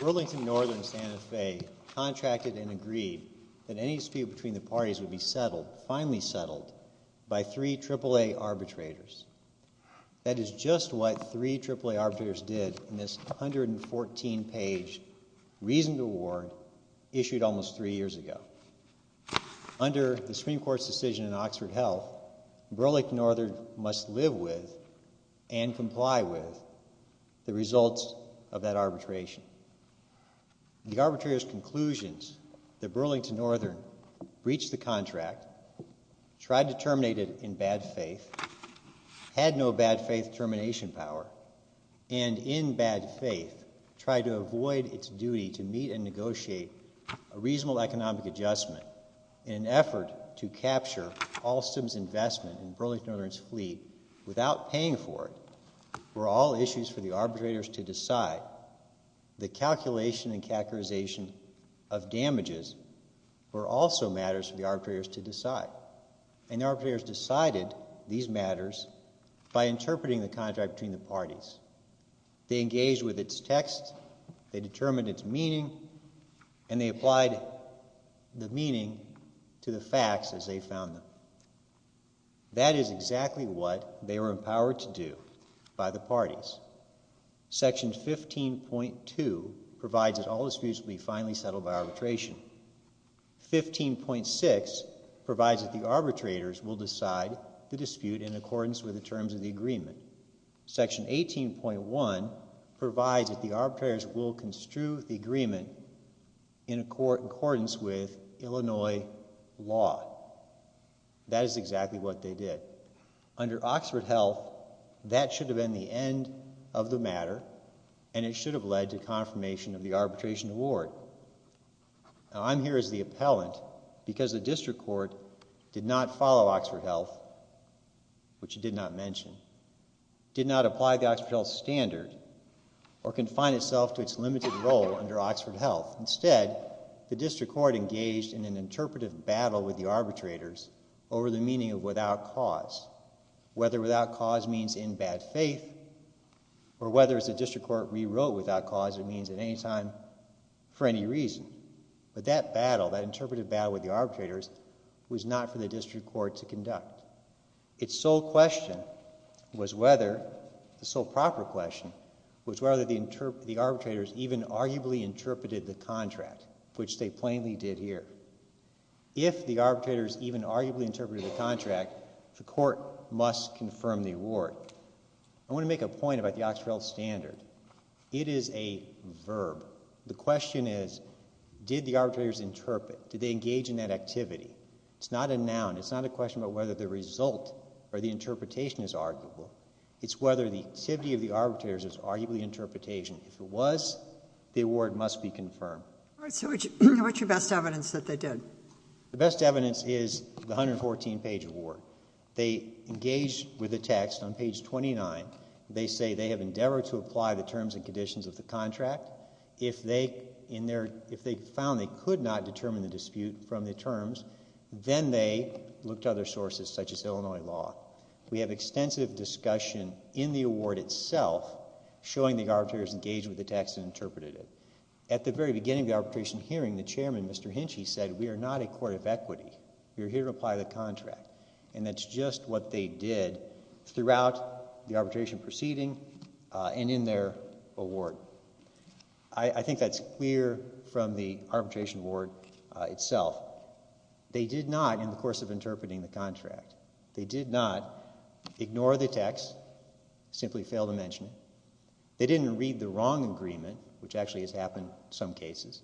Burlington Northern Santa Fe contracted and agreed that any dispute between the parties would be settled, finally settled, by three AAA arbitrators. That is just what three AAA arbitrators did in this 114-page reasoned award issued almost three years ago. Under the Supreme Court's decision in Oxford Health, Burlington Northern must live with and comply with the results of that arbitration. The arbitrator's conclusions that Burlington Northern breached the contract, tried to terminate it in bad faith, had no bad faith termination power, and in bad faith tried to avoid its duty to meet and negotiate a reasonable economic adjustment in an effort to capture Alstom's investment in Burlington Northern's fleet without paying for it, were all issues for the arbitrators to decide. The calculation and characterization of damages were also matters for the arbitrators to decide. And the arbitrators decided these matters by interpreting the contract between the parties. They engaged with its text, they determined its meaning, and they applied the meaning to the facts as they found them. That is exactly what they were empowered to do by the parties. Section 15.2 provides that all disputes will be finally settled by arbitration. 15.6 provides that the arbitrators will decide the dispute in accordance with the terms of the agreement. Section 18.1 provides that the arbitrators will construe the agreement in accordance with Illinois law. That is exactly what they did. Under Oxford Health, that should have been the end of the matter, and it should have led to confirmation of the arbitration award. Now I'm here as the appellant because the district court did not follow Oxford Health, which it did not mention, did not apply the Oxford Health standard or confine itself to its limited role under Oxford Health. Instead, the district court engaged in an interpretive battle with the arbitrators over the meaning of without cause. Whether without cause means in bad faith, or whether as the district court rewrote without cause, it means at any time for any reason. But that battle, that interpretive battle with the arbitrators, was not for the district court to conduct. Its sole question was whether, the sole proper question, was whether the arbitrators even arguably interpreted the contract, which they plainly did here. If the arbitrators even arguably interpreted the contract, the court must confirm the award. I want to make a point about the Oxford Health standard. It is a verb. The question is, did the arbitrators interpret? Did they engage in that activity? It's not a noun. It's not a question about whether the result or the interpretation is arguable. It's whether the activity of the arbitrators is arguably interpretation. If it was, the award must be confirmed. So what's your best evidence that they did? The best evidence is the 114 page award. They engaged with the text on page 29. They say they have endeavored to apply the terms and conditions of the contract. If they found they could not determine the dispute from the terms, then they looked to other sources, such as Illinois law. We have extensive discussion in the award itself, showing the arbitrators engaged with the text and interpreted it. At the very beginning of the arbitration hearing, the chairman, Mr. Hinchey, said we are not a court of equity. We are here to apply the contract. And that's just what they did throughout the arbitration proceeding and in their award. I think that's clear from the arbitration award itself. They did not, in the course of interpreting the contract, they did not ignore the text, simply fail to mention it. They didn't read the wrong agreement, which actually has happened in some cases.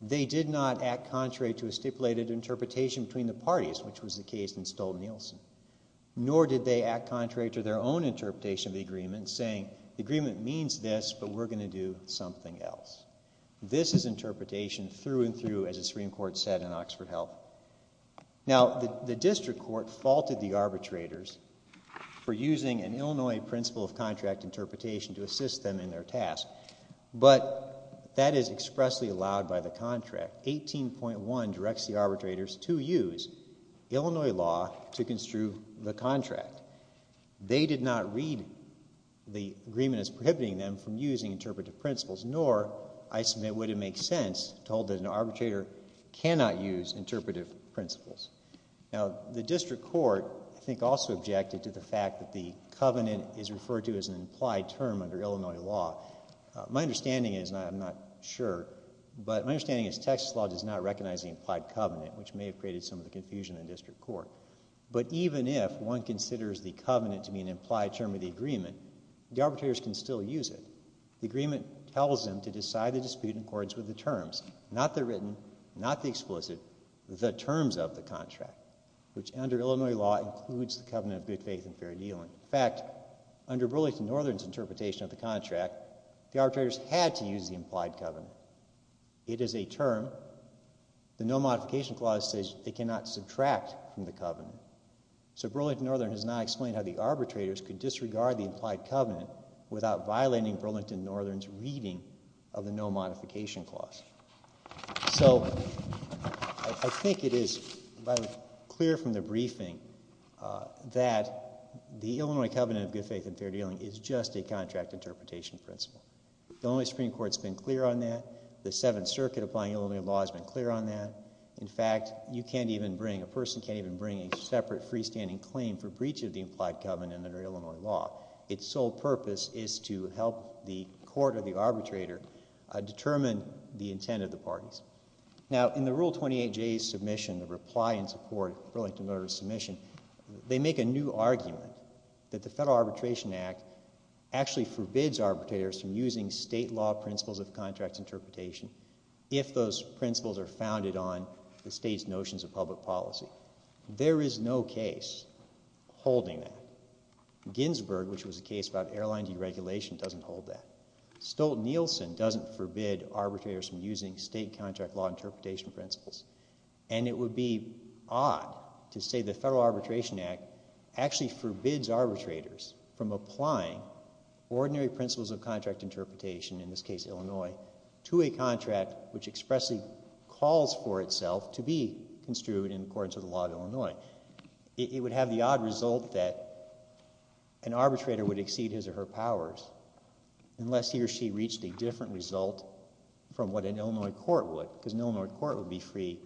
They did not act contrary to a stipulated interpretation between the parties, which was the case in Stolt-Nielsen. Nor did they act contrary to their own interpretation of the agreement, saying the agreement means this, but we're going to do something else. This is interpretation through and through, as the Supreme Court said in Oxford Health. Now, the district court faulted the arbitrators for using an Illinois principle of contract interpretation to assist them in their task. But that is expressly allowed by the contract. Article 18.1 directs the arbitrators to use Illinois law to construe the contract. They did not read the agreement as prohibiting them from using interpretive principles. Nor, I submit, would it make sense to hold that an arbitrator cannot use interpretive principles. Now, the district court, I think, also objected to the fact that the covenant is referred to as an implied term under Illinois law. My understanding is, and I'm not sure, but my understanding is Texas law does not recognize the implied covenant, which may have created some of the confusion in the district court. But even if one considers the covenant to be an implied term of the agreement, the arbitrators can still use it. The agreement tells them to decide the dispute in accordance with the terms, not the written, not the explicit, the terms of the contract, which under Illinois law includes the covenant of good faith and fair dealing. In fact, under Burlington Northern's interpretation of the contract, the arbitrators had to use the implied covenant. It is a term. The no modification clause says they cannot subtract from the covenant. So Burlington Northern has now explained how the arbitrators could disregard the implied covenant without violating Burlington Northern's reading of the no modification clause. So I think it is clear from the briefing that the Illinois covenant of good faith and fair dealing is just a contract interpretation principle. The Illinois Supreme Court's been clear on that. The Seventh Circuit applying Illinois law has been clear on that. In fact, you can't even bring, a person can't even bring a separate freestanding claim for breach of the implied covenant under Illinois law. Its sole purpose is to help the court or the arbitrator determine the intent of the parties. Now, in the Rule 28J's submission, the reply in support of Burlington Northern's submission, they make a new argument that the Federal Arbitration Act actually forbids arbitrators from using state law principles of contract interpretation if those principles are founded on the state's notions of public policy. There is no case holding that. Ginsburg, which was a case about airline deregulation, doesn't hold that. Stolt-Nielsen doesn't forbid arbitrators from using state contract law interpretation principles. And it would be odd to say the Federal Arbitration Act actually forbids arbitrators from applying ordinary principles of contract interpretation, in this case Illinois, to a contract which expressly calls for itself to be construed in accordance with the law of Illinois. It would have the odd result that an arbitrator would exceed his or her powers, unless he or she reached a different result from what an Illinois court would, because an Illinois court would be free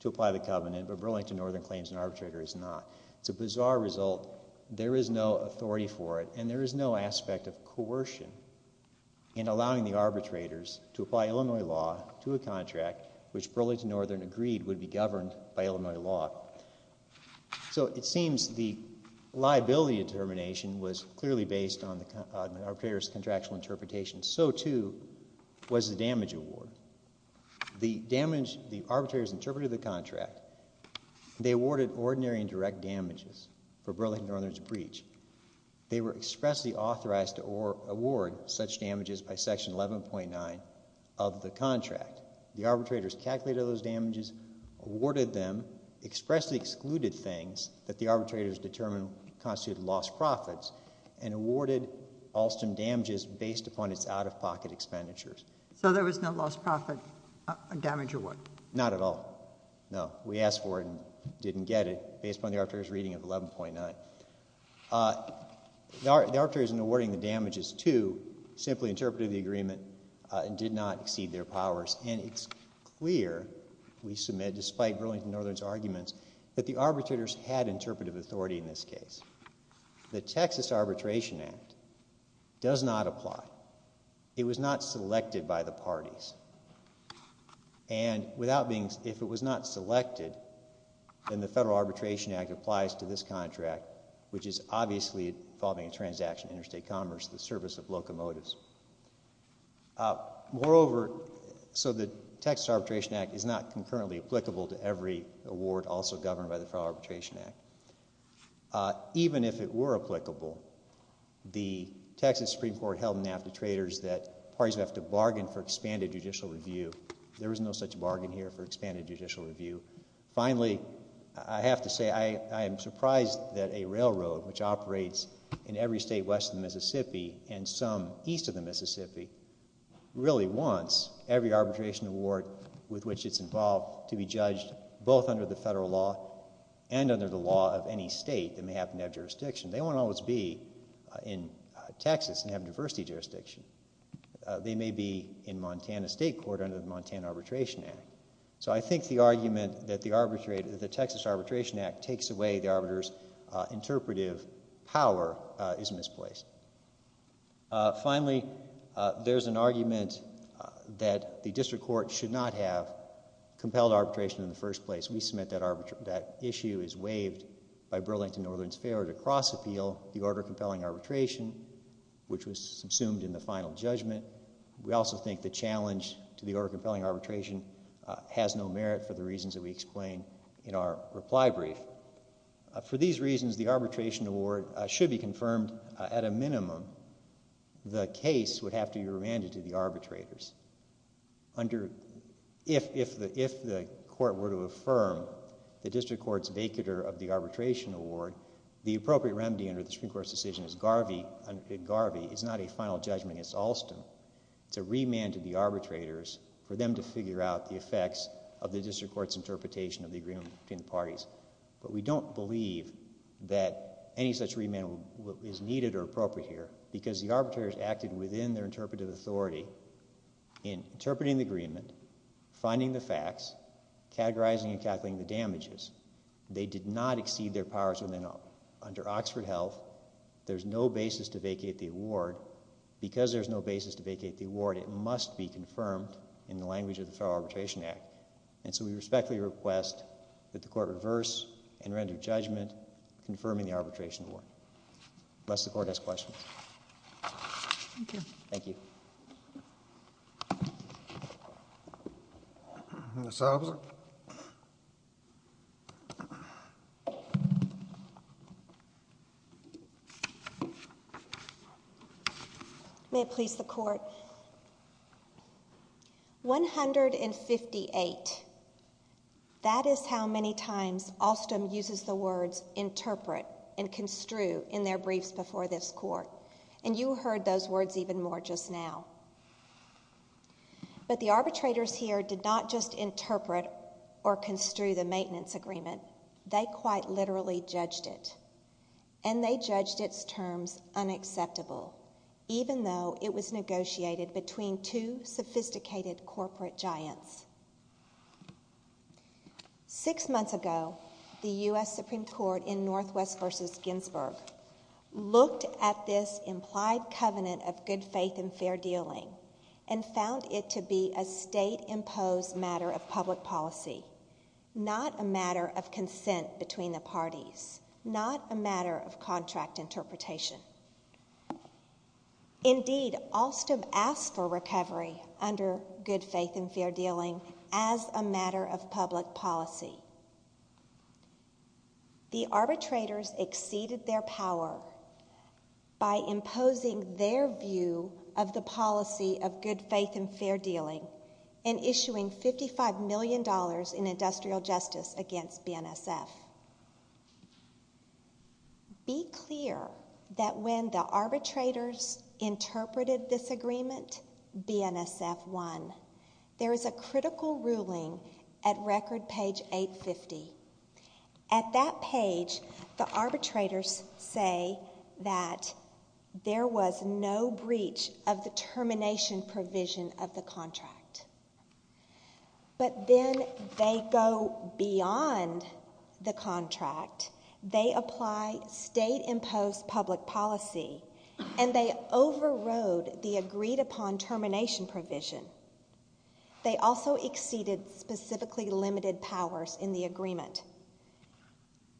to apply the covenant, but Burlington Northern claims an arbitrator is not. It's a bizarre result. There is no authority for it, and there is no aspect of coercion in allowing the arbitrators to apply Illinois law to a contract which Burlington Northern agreed would be governed by Illinois law. So it seems the liability determination was clearly based on the arbitrator's contractual interpretation. So, too, was the damage award. The arbitrators interpreted the contract. They awarded ordinary and direct damages for Burlington Northern's breach. They were expressly authorized to award such damages by Section 11.9 of the contract. The arbitrators calculated those damages, awarded them, expressly excluded things that the arbitrators determined constituted lost profits, and awarded Alston damages based upon its out-of-pocket expenditures. So there was no lost profit damage award? Not at all. No. We asked for it and didn't get it, based upon the arbitrator's reading of 11.9. The arbitrators in awarding the damages, too, simply interpreted the agreement and did not exceed their powers. And it's clear, we submit, despite Burlington Northern's arguments, that the arbitrators had interpretive authority in this case. The Texas Arbitration Act does not apply. It was not selected by the parties. And without being, if it was not selected, then the Federal Arbitration Act applies to this contract, which is obviously involving a transaction in interstate commerce, the service of locomotives. Moreover, so the Texas Arbitration Act is not concurrently applicable to every award also governed by the Federal Arbitration Act. Even if it were applicable, the Texas Supreme Court held in NAFTA traders that parties would have to bargain for expanded judicial review. There was no such bargain here for expanded judicial review. Finally, I have to say, I am surprised that a railroad, which operates in every state west of the Mississippi, and some east of the Mississippi, really wants every arbitration award with which it's involved to be judged, both under the federal law and under the law of any state that may happen to have jurisdiction. They won't always be in Texas and have diversity jurisdiction. They may be in Montana State Court under the Montana Arbitration Act. So I think the argument that the Texas Arbitration Act takes away the arbiters' interpretive power is misplaced. Finally, there's an argument that the district court should not have compelled arbitration in the first place. We submit that issue is waived by Burlington Northern's failure to cross-appeal the order of compelling arbitration, which was subsumed in the final judgment. We also think the challenge to the order of compelling arbitration has no merit for the reasons that we explain in our reply brief. For these reasons, the arbitration award should be confirmed at a minimum. The case would have to be remanded to the arbitrators. If the court were to affirm the district court's vacatur of the arbitration award, the appropriate remedy under the Supreme Court's decision is Garvey. It's not a final judgment against Alston. It's a remand to the arbitrators for them to figure out the effects of the district court's interpretation of the agreement between the parties. But we don't believe that any such remand is needed or appropriate here because the arbitrators acted within their interpretive authority in interpreting the agreement, finding the facts, categorizing and calculating the damages. They did not exceed their powers within under Oxford Health. There's no basis to vacate the award. Because there's no basis to vacate the award, it must be confirmed in the language of the Federal Arbitration Act. And so we respectfully request that the court reverse and render judgment confirming the arbitration award. Unless the court has questions. Thank you. Thank you. Ms. Albers. May it please the court. 158. That is how many times Alston uses the words interpret and construe in their briefs before this court. And you heard those words even more just now. But the arbitrators here did not just interpret or construe the maintenance agreement. They quite literally judged it. And they judged its terms unacceptable. Even though it was negotiated between two sophisticated corporate giants. Six months ago, the U.S. Supreme Court in Northwest v. Ginsburg looked at this implied covenant of good faith and fair dealing and found it to be a state-imposed matter of public policy, not a matter of consent between the parties, not a matter of contract interpretation. Indeed, Alston asked for recovery under good faith and fair dealing as a matter of public policy. The arbitrators exceeded their power by imposing their view of the policy of good faith and fair dealing and issuing $55 million in industrial justice against BNSF. Be clear that when the arbitrators interpreted this agreement, BNSF won. There is a critical ruling at record page 850. At that page, the arbitrators say that there was no breach of the termination provision of the contract. But then they go beyond the contract. They apply state-imposed public policy and they overrode the agreed-upon termination provision. They also exceeded specifically limited powers in the agreement.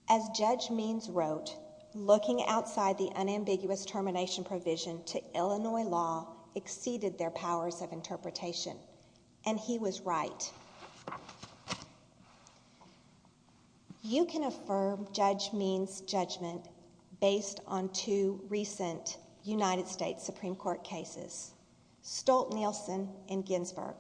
As Judge Means wrote, looking outside the unambiguous termination provision to Illinois law exceeded their powers of interpretation. And he was right. You can affirm Judge Means' judgment based on two recent United States Supreme Court cases, Stolt-Nielsen and Ginsburg.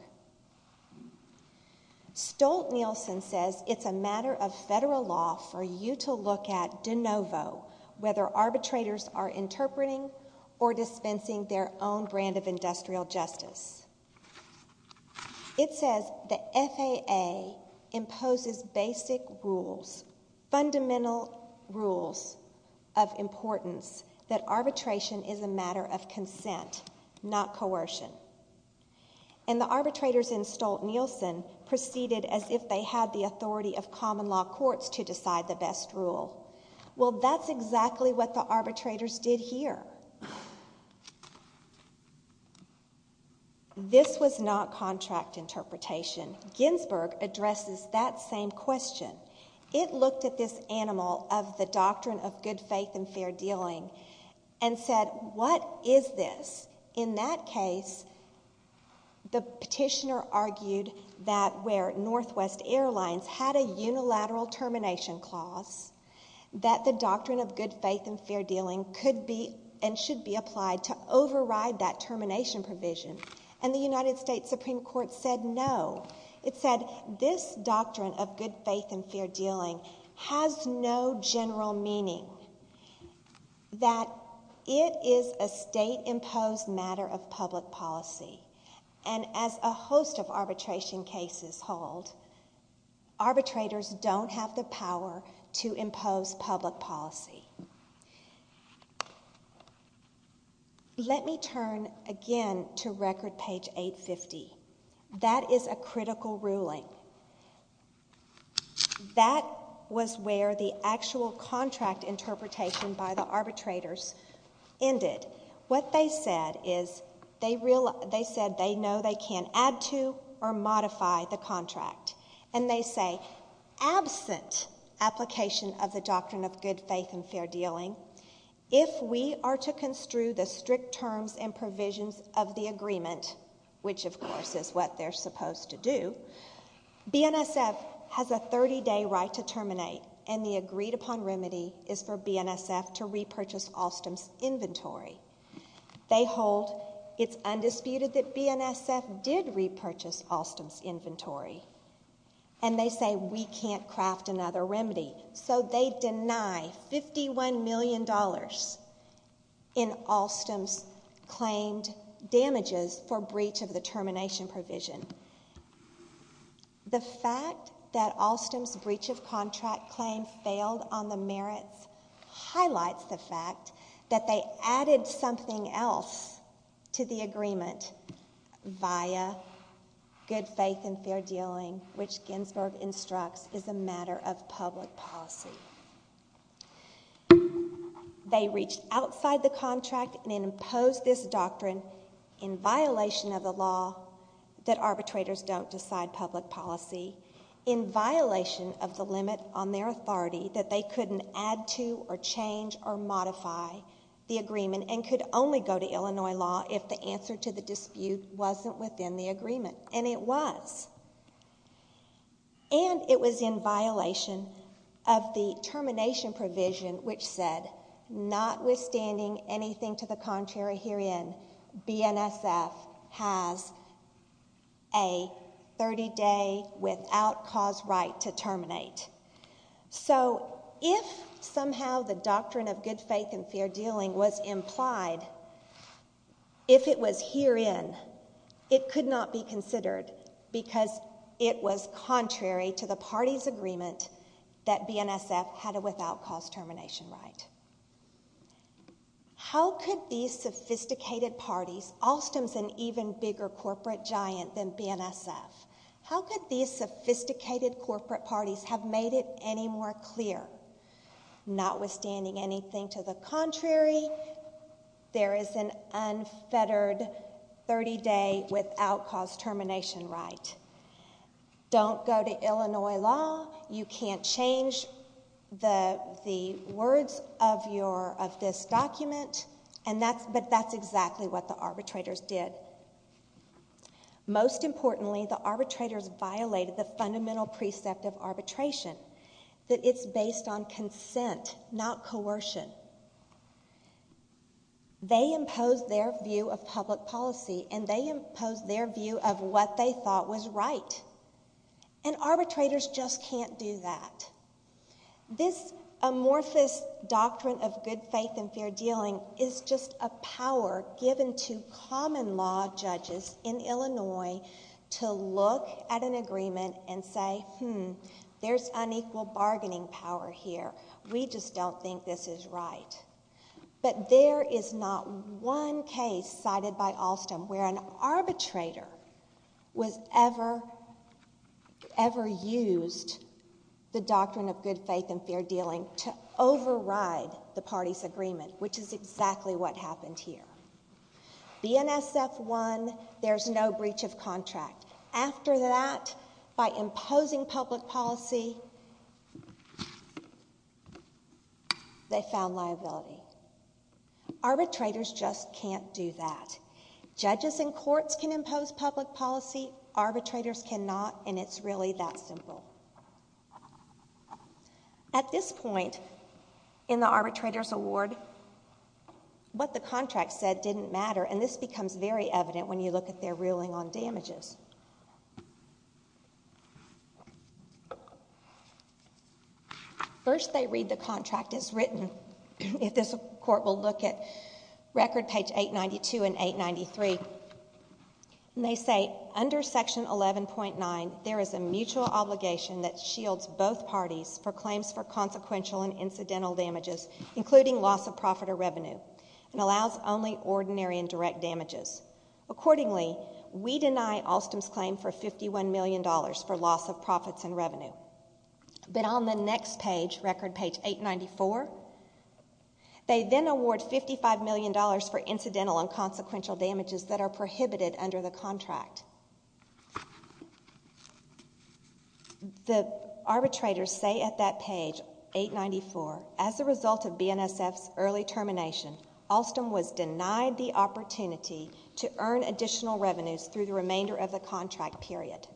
Stolt-Nielsen says it's a matter of federal law for you to look at de novo whether arbitrators are interpreting or dispensing their own brand of industrial justice. It says the FAA imposes basic rules, fundamental rules of importance, that arbitration is a matter of consent, not coercion. And the arbitrators in Stolt-Nielsen proceeded as if they had the authority of common law courts to decide the best rule. Well, that's exactly what the arbitrators did here. This was not contract interpretation. Ginsburg addresses that same question. It looked at this animal of the doctrine of good faith and fair dealing and said, what is this? In that case, the petitioner argued that where Northwest Airlines had a unilateral termination clause, that the doctrine of good faith and fair dealing could be and should be applied to override that termination provision. And the United States Supreme Court said no. It said this doctrine of good faith and fair dealing has no general meaning, that it is a state-imposed matter of public policy. And as a host of arbitration cases hold, arbitrators don't have the power to impose public policy. Let me turn again to record page 850. That is a critical ruling. That was where the actual contract interpretation by the arbitrators ended. What they said is they said they know they can add to or modify the contract. And they say, absent application of the doctrine of good faith and fair dealing, if we are to construe the strict terms and provisions of the agreement, which of course is what they're supposed to do, BNSF has a 30-day right to terminate and the agreed-upon remedy is for BNSF to repurchase Alstom's inventory. They hold it's undisputed that BNSF did repurchase Alstom's inventory. And they say we can't craft another remedy. So they deny $51 million in Alstom's claimed damages for breach of the termination provision. The fact that Alstom's breach of contract claim failed on the merits highlights the fact that they added something else to the agreement via good faith and fair dealing, which Ginsburg instructs is a matter of public policy. They reached outside the contract and imposed this doctrine in violation of the law that arbitrators don't decide public policy, in violation of the limit on their authority that they couldn't add to or change or modify the agreement and could only go to Illinois law if the answer to the dispute wasn't within the agreement. And it was. And it was in violation of the termination provision which said notwithstanding anything to the contrary herein, BNSF has a 30-day without cause right to terminate. So if somehow the doctrine of good faith and fair dealing was implied, if it was herein, it could not be considered because it was contrary to the party's agreement that BNSF had a without cause termination right. How could these sophisticated parties, Alstom's an even bigger corporate giant than BNSF, how could these sophisticated corporate parties have made it any more clear notwithstanding anything to the contrary there is an unfettered 30-day without cause termination right? Don't go to Illinois law. You can't change the words of this document. But that's exactly what the arbitrators did. Most importantly, the arbitrators violated the fundamental precept of arbitration, that it's based on consent, not coercion. They imposed their view of public policy and they imposed their view of what they thought was right. And arbitrators just can't do that. This amorphous doctrine of good faith and fair dealing is just a power given to common law judges in Illinois to look at an agreement and say, hmm, there's unequal bargaining power here. We just don't think this is right. But there is not one case cited by Alstom where an arbitrator was ever, ever used the doctrine of good faith and fair dealing to override the party's agreement, which is exactly what happened here. BNSF won, there's no breach of contract. After that, by imposing public policy, they found liability. Arbitrators just can't do that. Judges in courts can impose public policy, arbitrators cannot, and it's really that simple. At this point in the arbitrators' award, what the contract said didn't matter, and this becomes very evident when you look at their ruling on damages. First, they read the contract as written. If this court will look at record page 892 and 893, they say, under section 11.9, there is a mutual obligation that shields both parties for claims for consequential and incidental damages, including loss of profit or revenue, and allows only ordinary and direct damages. Accordingly, we deny Alstom's claim for $51 million for loss of profits and revenue. But on the next page, record page 894, they then award $55 million for incidental and consequential damages that are prohibited under the contract. The arbitrators say at that page, 894, as a result of BNSF's early termination, Alstom was denied the opportunity to earn additional revenues through the remainder of the contract period,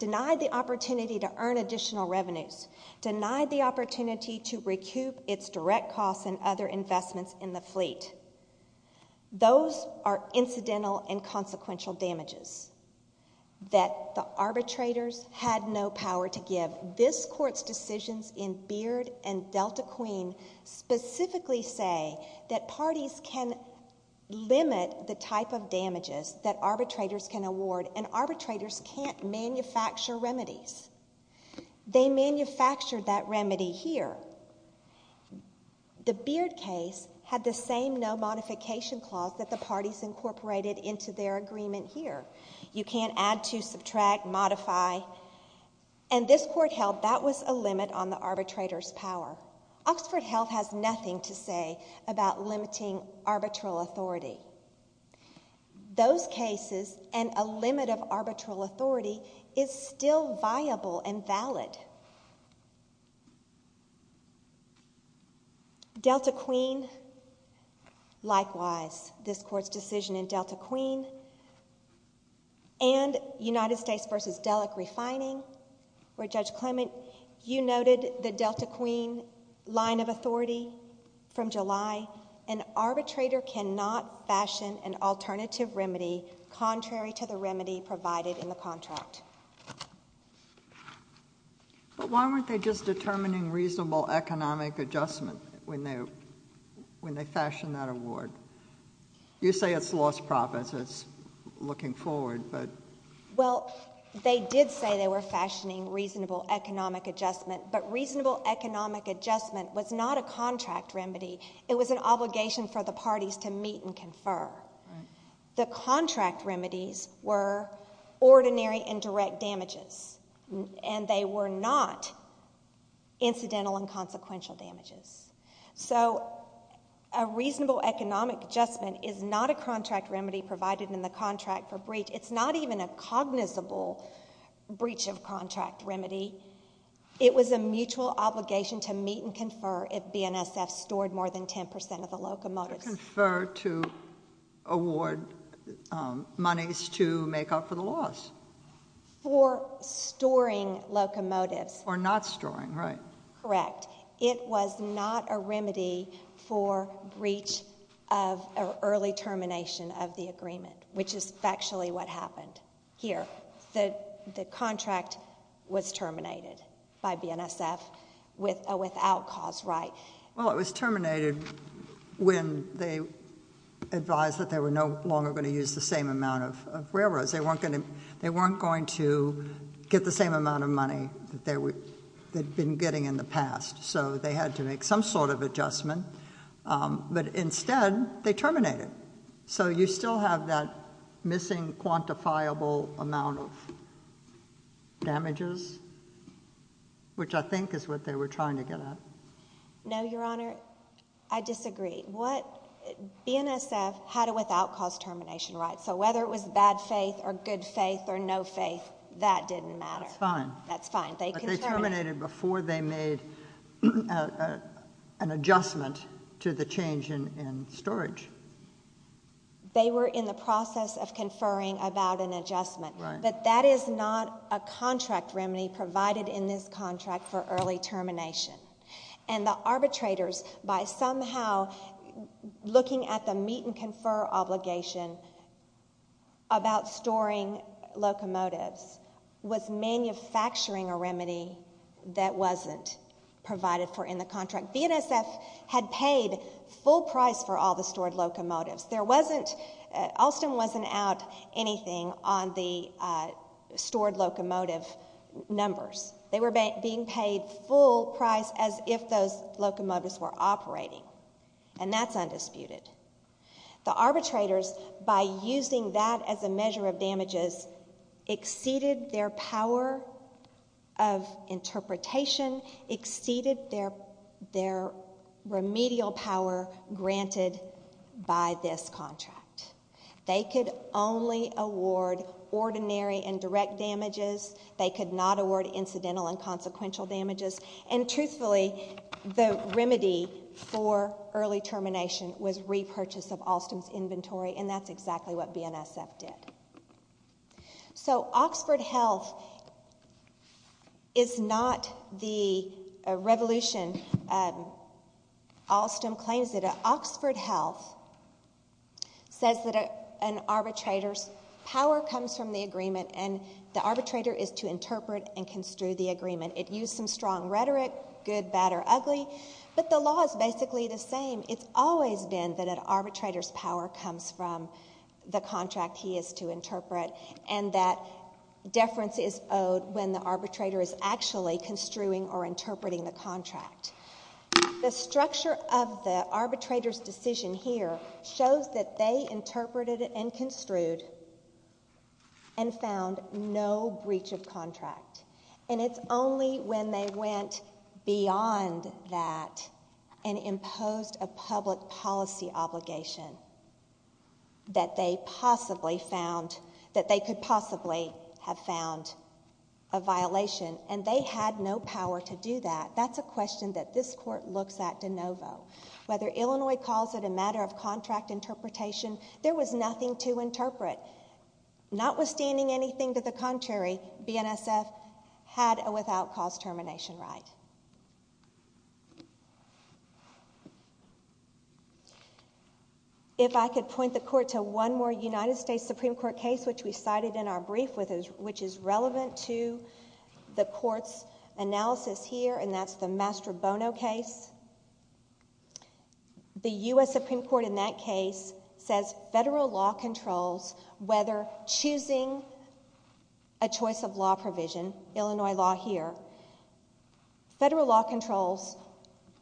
denied the opportunity to earn additional revenues, denied the opportunity to recoup its direct costs and other investments in the fleet. Those are incidental and consequential damages that the arbitrators had no power to give. This court's decisions in Beard and Delta Queen specifically say that parties can limit the type of damages that arbitrators can award, and arbitrators can't manufacture remedies. They manufactured that remedy here. The Beard case had the same no-modification clause that the parties incorporated into their agreement here. You can't add to, subtract, modify. And this court held that was a limit on the arbitrator's power. Oxford Health has nothing to say about limiting arbitral authority. Those cases and a limit of arbitral authority is still viable and valid. Delta Queen, likewise, this court's decision in Delta Queen and United States v. Dellek refining, where Judge Clement, you noted the Delta Queen line of authority from July, an arbitrator cannot fashion an alternative remedy contrary to the remedy provided in the contract. But why weren't they just determining reasonable economic adjustment when they fashioned that award? You say it's lost profits. It's looking forward, but... Well, they did say they were fashioning reasonable economic adjustment, but reasonable economic adjustment was not a contract remedy. It was an obligation for the parties to meet and confer. The contract remedies were ordinary and direct damages, and they were not incidental and consequential damages. So a reasonable economic adjustment is not a contract remedy provided in the contract for breach. It's not even a cognizable breach of contract remedy. It was a mutual obligation to meet and confer if BNSF stored more than 10% of the locomotives. But they didn't confer to award monies to make up for the loss. For storing locomotives. Or not storing, right. Correct. It was not a remedy for breach of early termination of the agreement, which is factually what happened here. The contract was terminated by BNSF without cause, right. Well, it was terminated when they advised that they were no longer going to use the same amount of railroads. They weren't going to get the same amount of money that they'd been getting in the past. So they had to make some sort of adjustment. But instead, they terminated. So you still have that missing quantifiable amount of damages, which I think is what they were trying to get at. No, Your Honor, I disagree. BNSF had a without cause termination, right. So whether it was bad faith or good faith or no faith, that didn't matter. That's fine. But they terminated before they made an adjustment to the change in storage. They were in the process of conferring about an adjustment. But that is not a contract remedy provided in this contract for early termination. And the arbitrators, by somehow looking at the meet and confer obligation about storing locomotives, was manufacturing a remedy that wasn't provided for in the contract. BNSF had paid full price for all the stored locomotives. There wasn't, Alston wasn't out anything on the stored locomotive numbers. They were being paid full price as if those locomotives were operating. And that's undisputed. The arbitrators, by using that as a measure of damages, exceeded their power of interpretation, exceeded their remedial power granted by this contract. They could only award ordinary and direct damages. They could not award incidental and consequential damages. And truthfully, the remedy for early termination was repurchase of Alston's inventory, and that's exactly what BNSF did. So Oxford Health is not the revolution. Alston claims that Oxford Health says that an arbitrator's power comes from the agreement, and the arbitrator is to interpret and construe the agreement. It used some strong rhetoric, good, bad, or ugly, but the law is basically the same. It's always been that an arbitrator's power comes from the contract he is to interpret, and that deference is owed when the arbitrator is actually construing or interpreting the contract. The structure of the arbitrator's decision here shows that they interpreted and construed and found no breach of contract. And it's only when they went beyond that and imposed a public policy obligation that they could possibly have found a violation, and they had no power to do that. That's a question that this Court looks at de novo. Whether Illinois calls it a matter of contract interpretation, there was nothing to interpret. Notwithstanding anything to the contrary, BNSF had a without-cause termination right. If I could point the Court to one more United States Supreme Court case which we cited in our brief, which is relevant to the Court's analysis here, and that's the Mastrobono case. The U.S. Supreme Court in that case says federal law controls whether choosing a choice of law provision, Illinois law here, federal law controls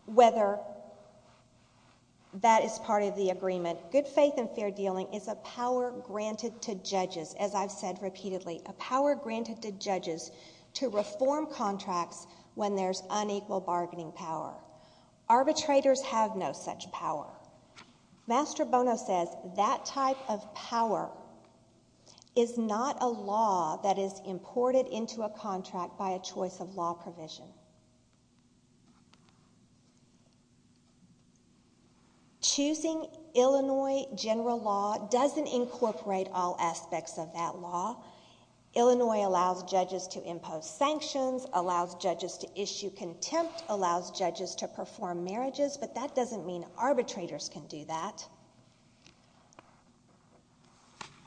whether that is part of the agreement. Good faith and fair dealing is a power granted to judges, as I've said repeatedly, a power granted to judges to reform contracts when there's unequal bargaining power. Arbitrators have no such power. Mastrobono says that type of power is not a law that is imported into a contract by a choice of law provision. Choosing Illinois general law doesn't incorporate all aspects of that law. Illinois allows judges to impose sanctions, allows judges to issue contempt, allows judges to perform marriages, but that doesn't mean arbitrators can do that.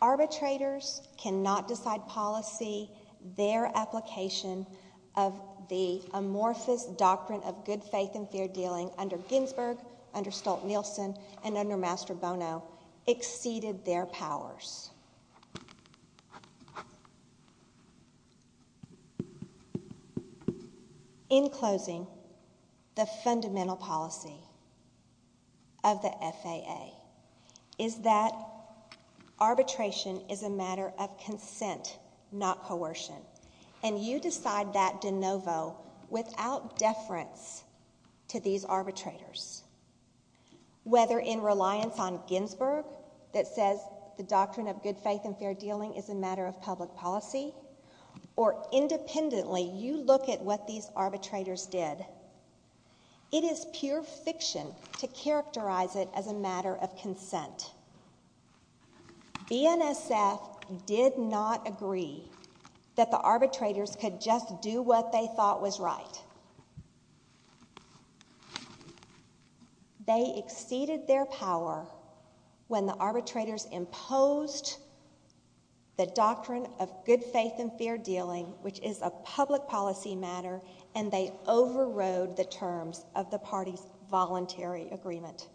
Arbitrators cannot decide policy. Their application of the amorphous doctrine of good faith and fair dealing under Ginsburg, under Stolt-Nielsen, and under Mastrobono exceeded their powers. In closing, the fundamental policy of the FAA is that arbitration is a matter of consent, not coercion. And you decide that de novo without deference to these arbitrators. Whether in reliance on Ginsburg that says the doctrine of good faith and fair dealing is a matter of public policy, or independently you look at what these arbitrators did, it is pure fiction to characterize it as a matter of consent. BNSF did not agree that the arbitrators could just do what they thought was right. They exceeded their power when the arbitrators imposed the doctrine of good faith and fair dealing, which is a public policy matter, and they overrode the terms of the party's voluntary agreement.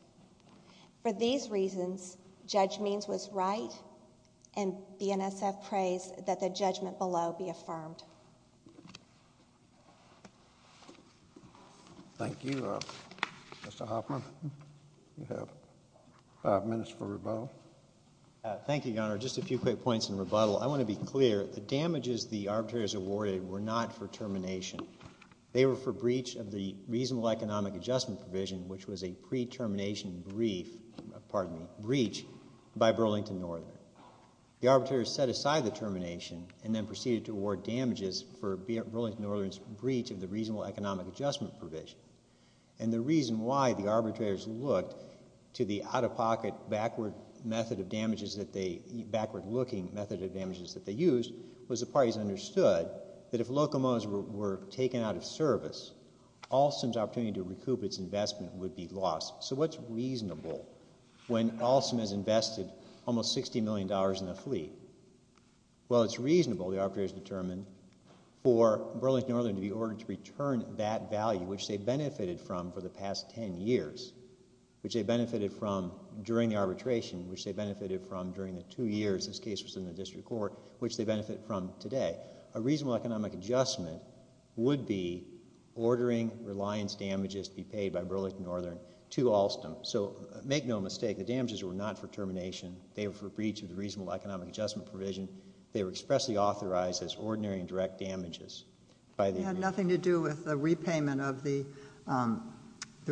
For these reasons, Judge Means was right, and BNSF prays that the judgment below be affirmed. Thank you. Mr. Hoffman, you have five minutes for rebuttal. Thank you, Your Honor. Just a few quick points in rebuttal. I want to be clear. The damages the arbitrators awarded were not for termination. They were for breach of the reasonable economic adjustment provision, which was a pre-termination breach by Burlington Northern. The arbitrators set aside the termination and then proceeded to award damages for Burlington Northern's breach of the reasonable economic adjustment provision. And the reason why the arbitrators looked to the out-of-pocket backward method of damages that they, backward-looking method of damages that they used was the parties understood that if locomotives were taken out of service, Alstom's opportunity to recoup its investment would be lost. So what's reasonable when Alstom has invested almost $60 million in the fleet? Well, it's reasonable, the arbitrators determined, for Burlington Northern to be ordered to return that value, which they benefited from for the past 10 years, which they benefited from during the arbitration, which they benefited from during the two years this case was in the district court, which they benefit from today. A reasonable economic adjustment would be ordering reliance damages to be paid by Burlington Northern to Alstom. So make no mistake, the damages were not for termination. They were for breach of the reasonable economic adjustment provision. They were for damages. It had nothing to do with the repayment of the, the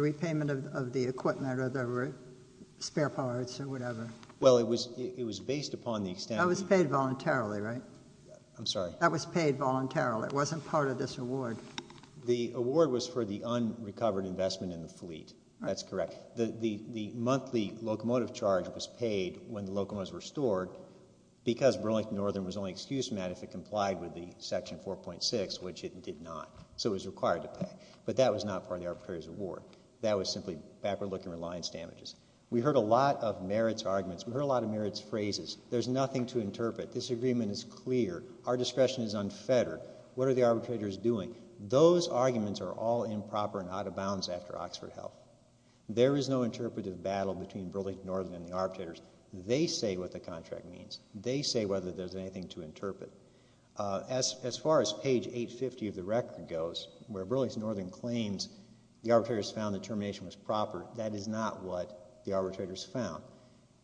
repayment of the equipment or the spare parts or whatever. Well, it was based upon the extent... That was paid voluntarily, right? I'm sorry. That was paid voluntarily. It wasn't part of this award. The award was for the unrecovered investment in the fleet. That's correct. The monthly locomotive charge was paid when the locomotives were stored at 4.6, which it did not. So it was required to pay. But that was not part of the arbitrator's award. That was simply backward-looking reliance damages. We heard a lot of merits arguments. We heard a lot of merits phrases. There's nothing to interpret. This agreement is clear. Our discretion is unfettered. What are the arbitrators doing? Those arguments are all improper and out of bounds after Oxford Health. There is no interpretive battle between Burlington Northern and the arbitrators. They say what the contract means. As far as page 850 of the record goes, where Burlington Northern claims the arbitrators found the termination was proper, that is not what the arbitrators found.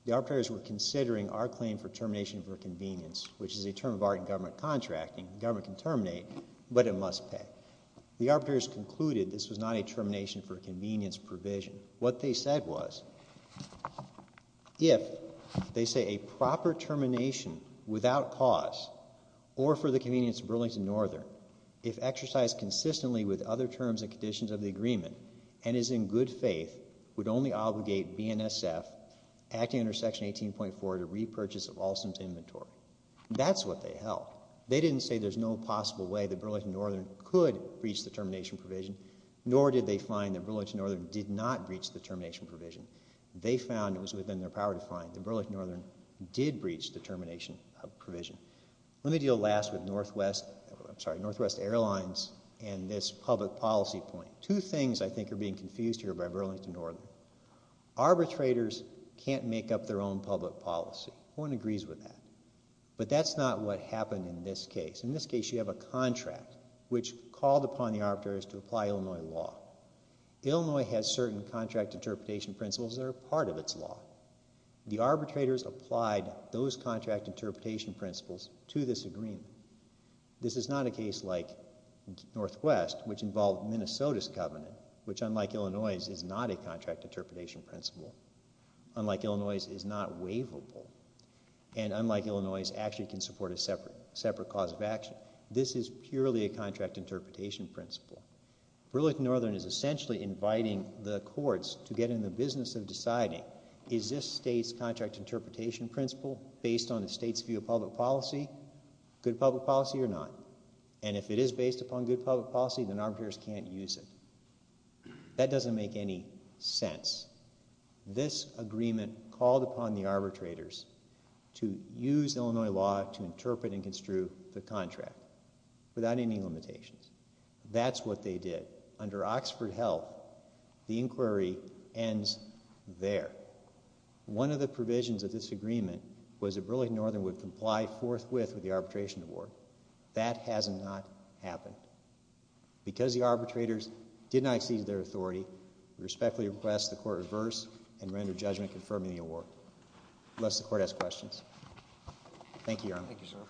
The arbitrators were considering our claim for termination for convenience, which is a term of art in government contracting. Government can terminate, but it must pay. The arbitrators concluded this was not a termination for convenience provision. What they said was, if they say a proper termination without cause or for the convenience of Burlington Northern if exercised consistently with other terms and conditions of the agreement and is in good faith, would only obligate BNSF, acting under section 18.4, to repurchase of Alstom's inventory. That's what they held. They didn't say there's no possible way that Burlington Northern could breach the termination provision, nor did they find that Burlington Northern did not breach the termination provision. They found it was within their power to find that Burlington Northern did breach the termination provision. Northwest Airlines and this public policy point, two things I think are being confused here by Burlington Northern. Arbitrators can't make up their own public policy. No one agrees with that. But that's not what happened in this case. In this case, you have a contract which called upon the arbitrators to apply Illinois law. Illinois has certain contract interpretation principles that are part of its law. The arbitrators applied those contract interpretation principles to this agreement. This is not a case like Northwest, which involved Minnesota's covenant, which unlike Illinois, is not a contract interpretation principle. Unlike Illinois, it is not waivable. And unlike Illinois, it actually can support a separate cause of action. This is purely a contract interpretation principle. Burlington Northern is essentially inviting the courts to get in the business of deciding is this state's contract interpretation principle based on the state's view of public policy? Good public policy or not? And if it is based upon good public policy, then arbitrators can't use it. That doesn't make any sense. This agreement called upon the arbitrators to use Illinois law to interpret and construe the contract without any limitations. That's what they did. Under Oxford Health, the inquiry ends there. One of the provisions of this agreement was that Burlington Northern would comply forthwith with the arbitration award. That has not happened. Because the arbitrators did not exceed their authority, we respectfully request the court reverse and render judgment confirming the award. Unless the court has questions. Thank you, Your Honor.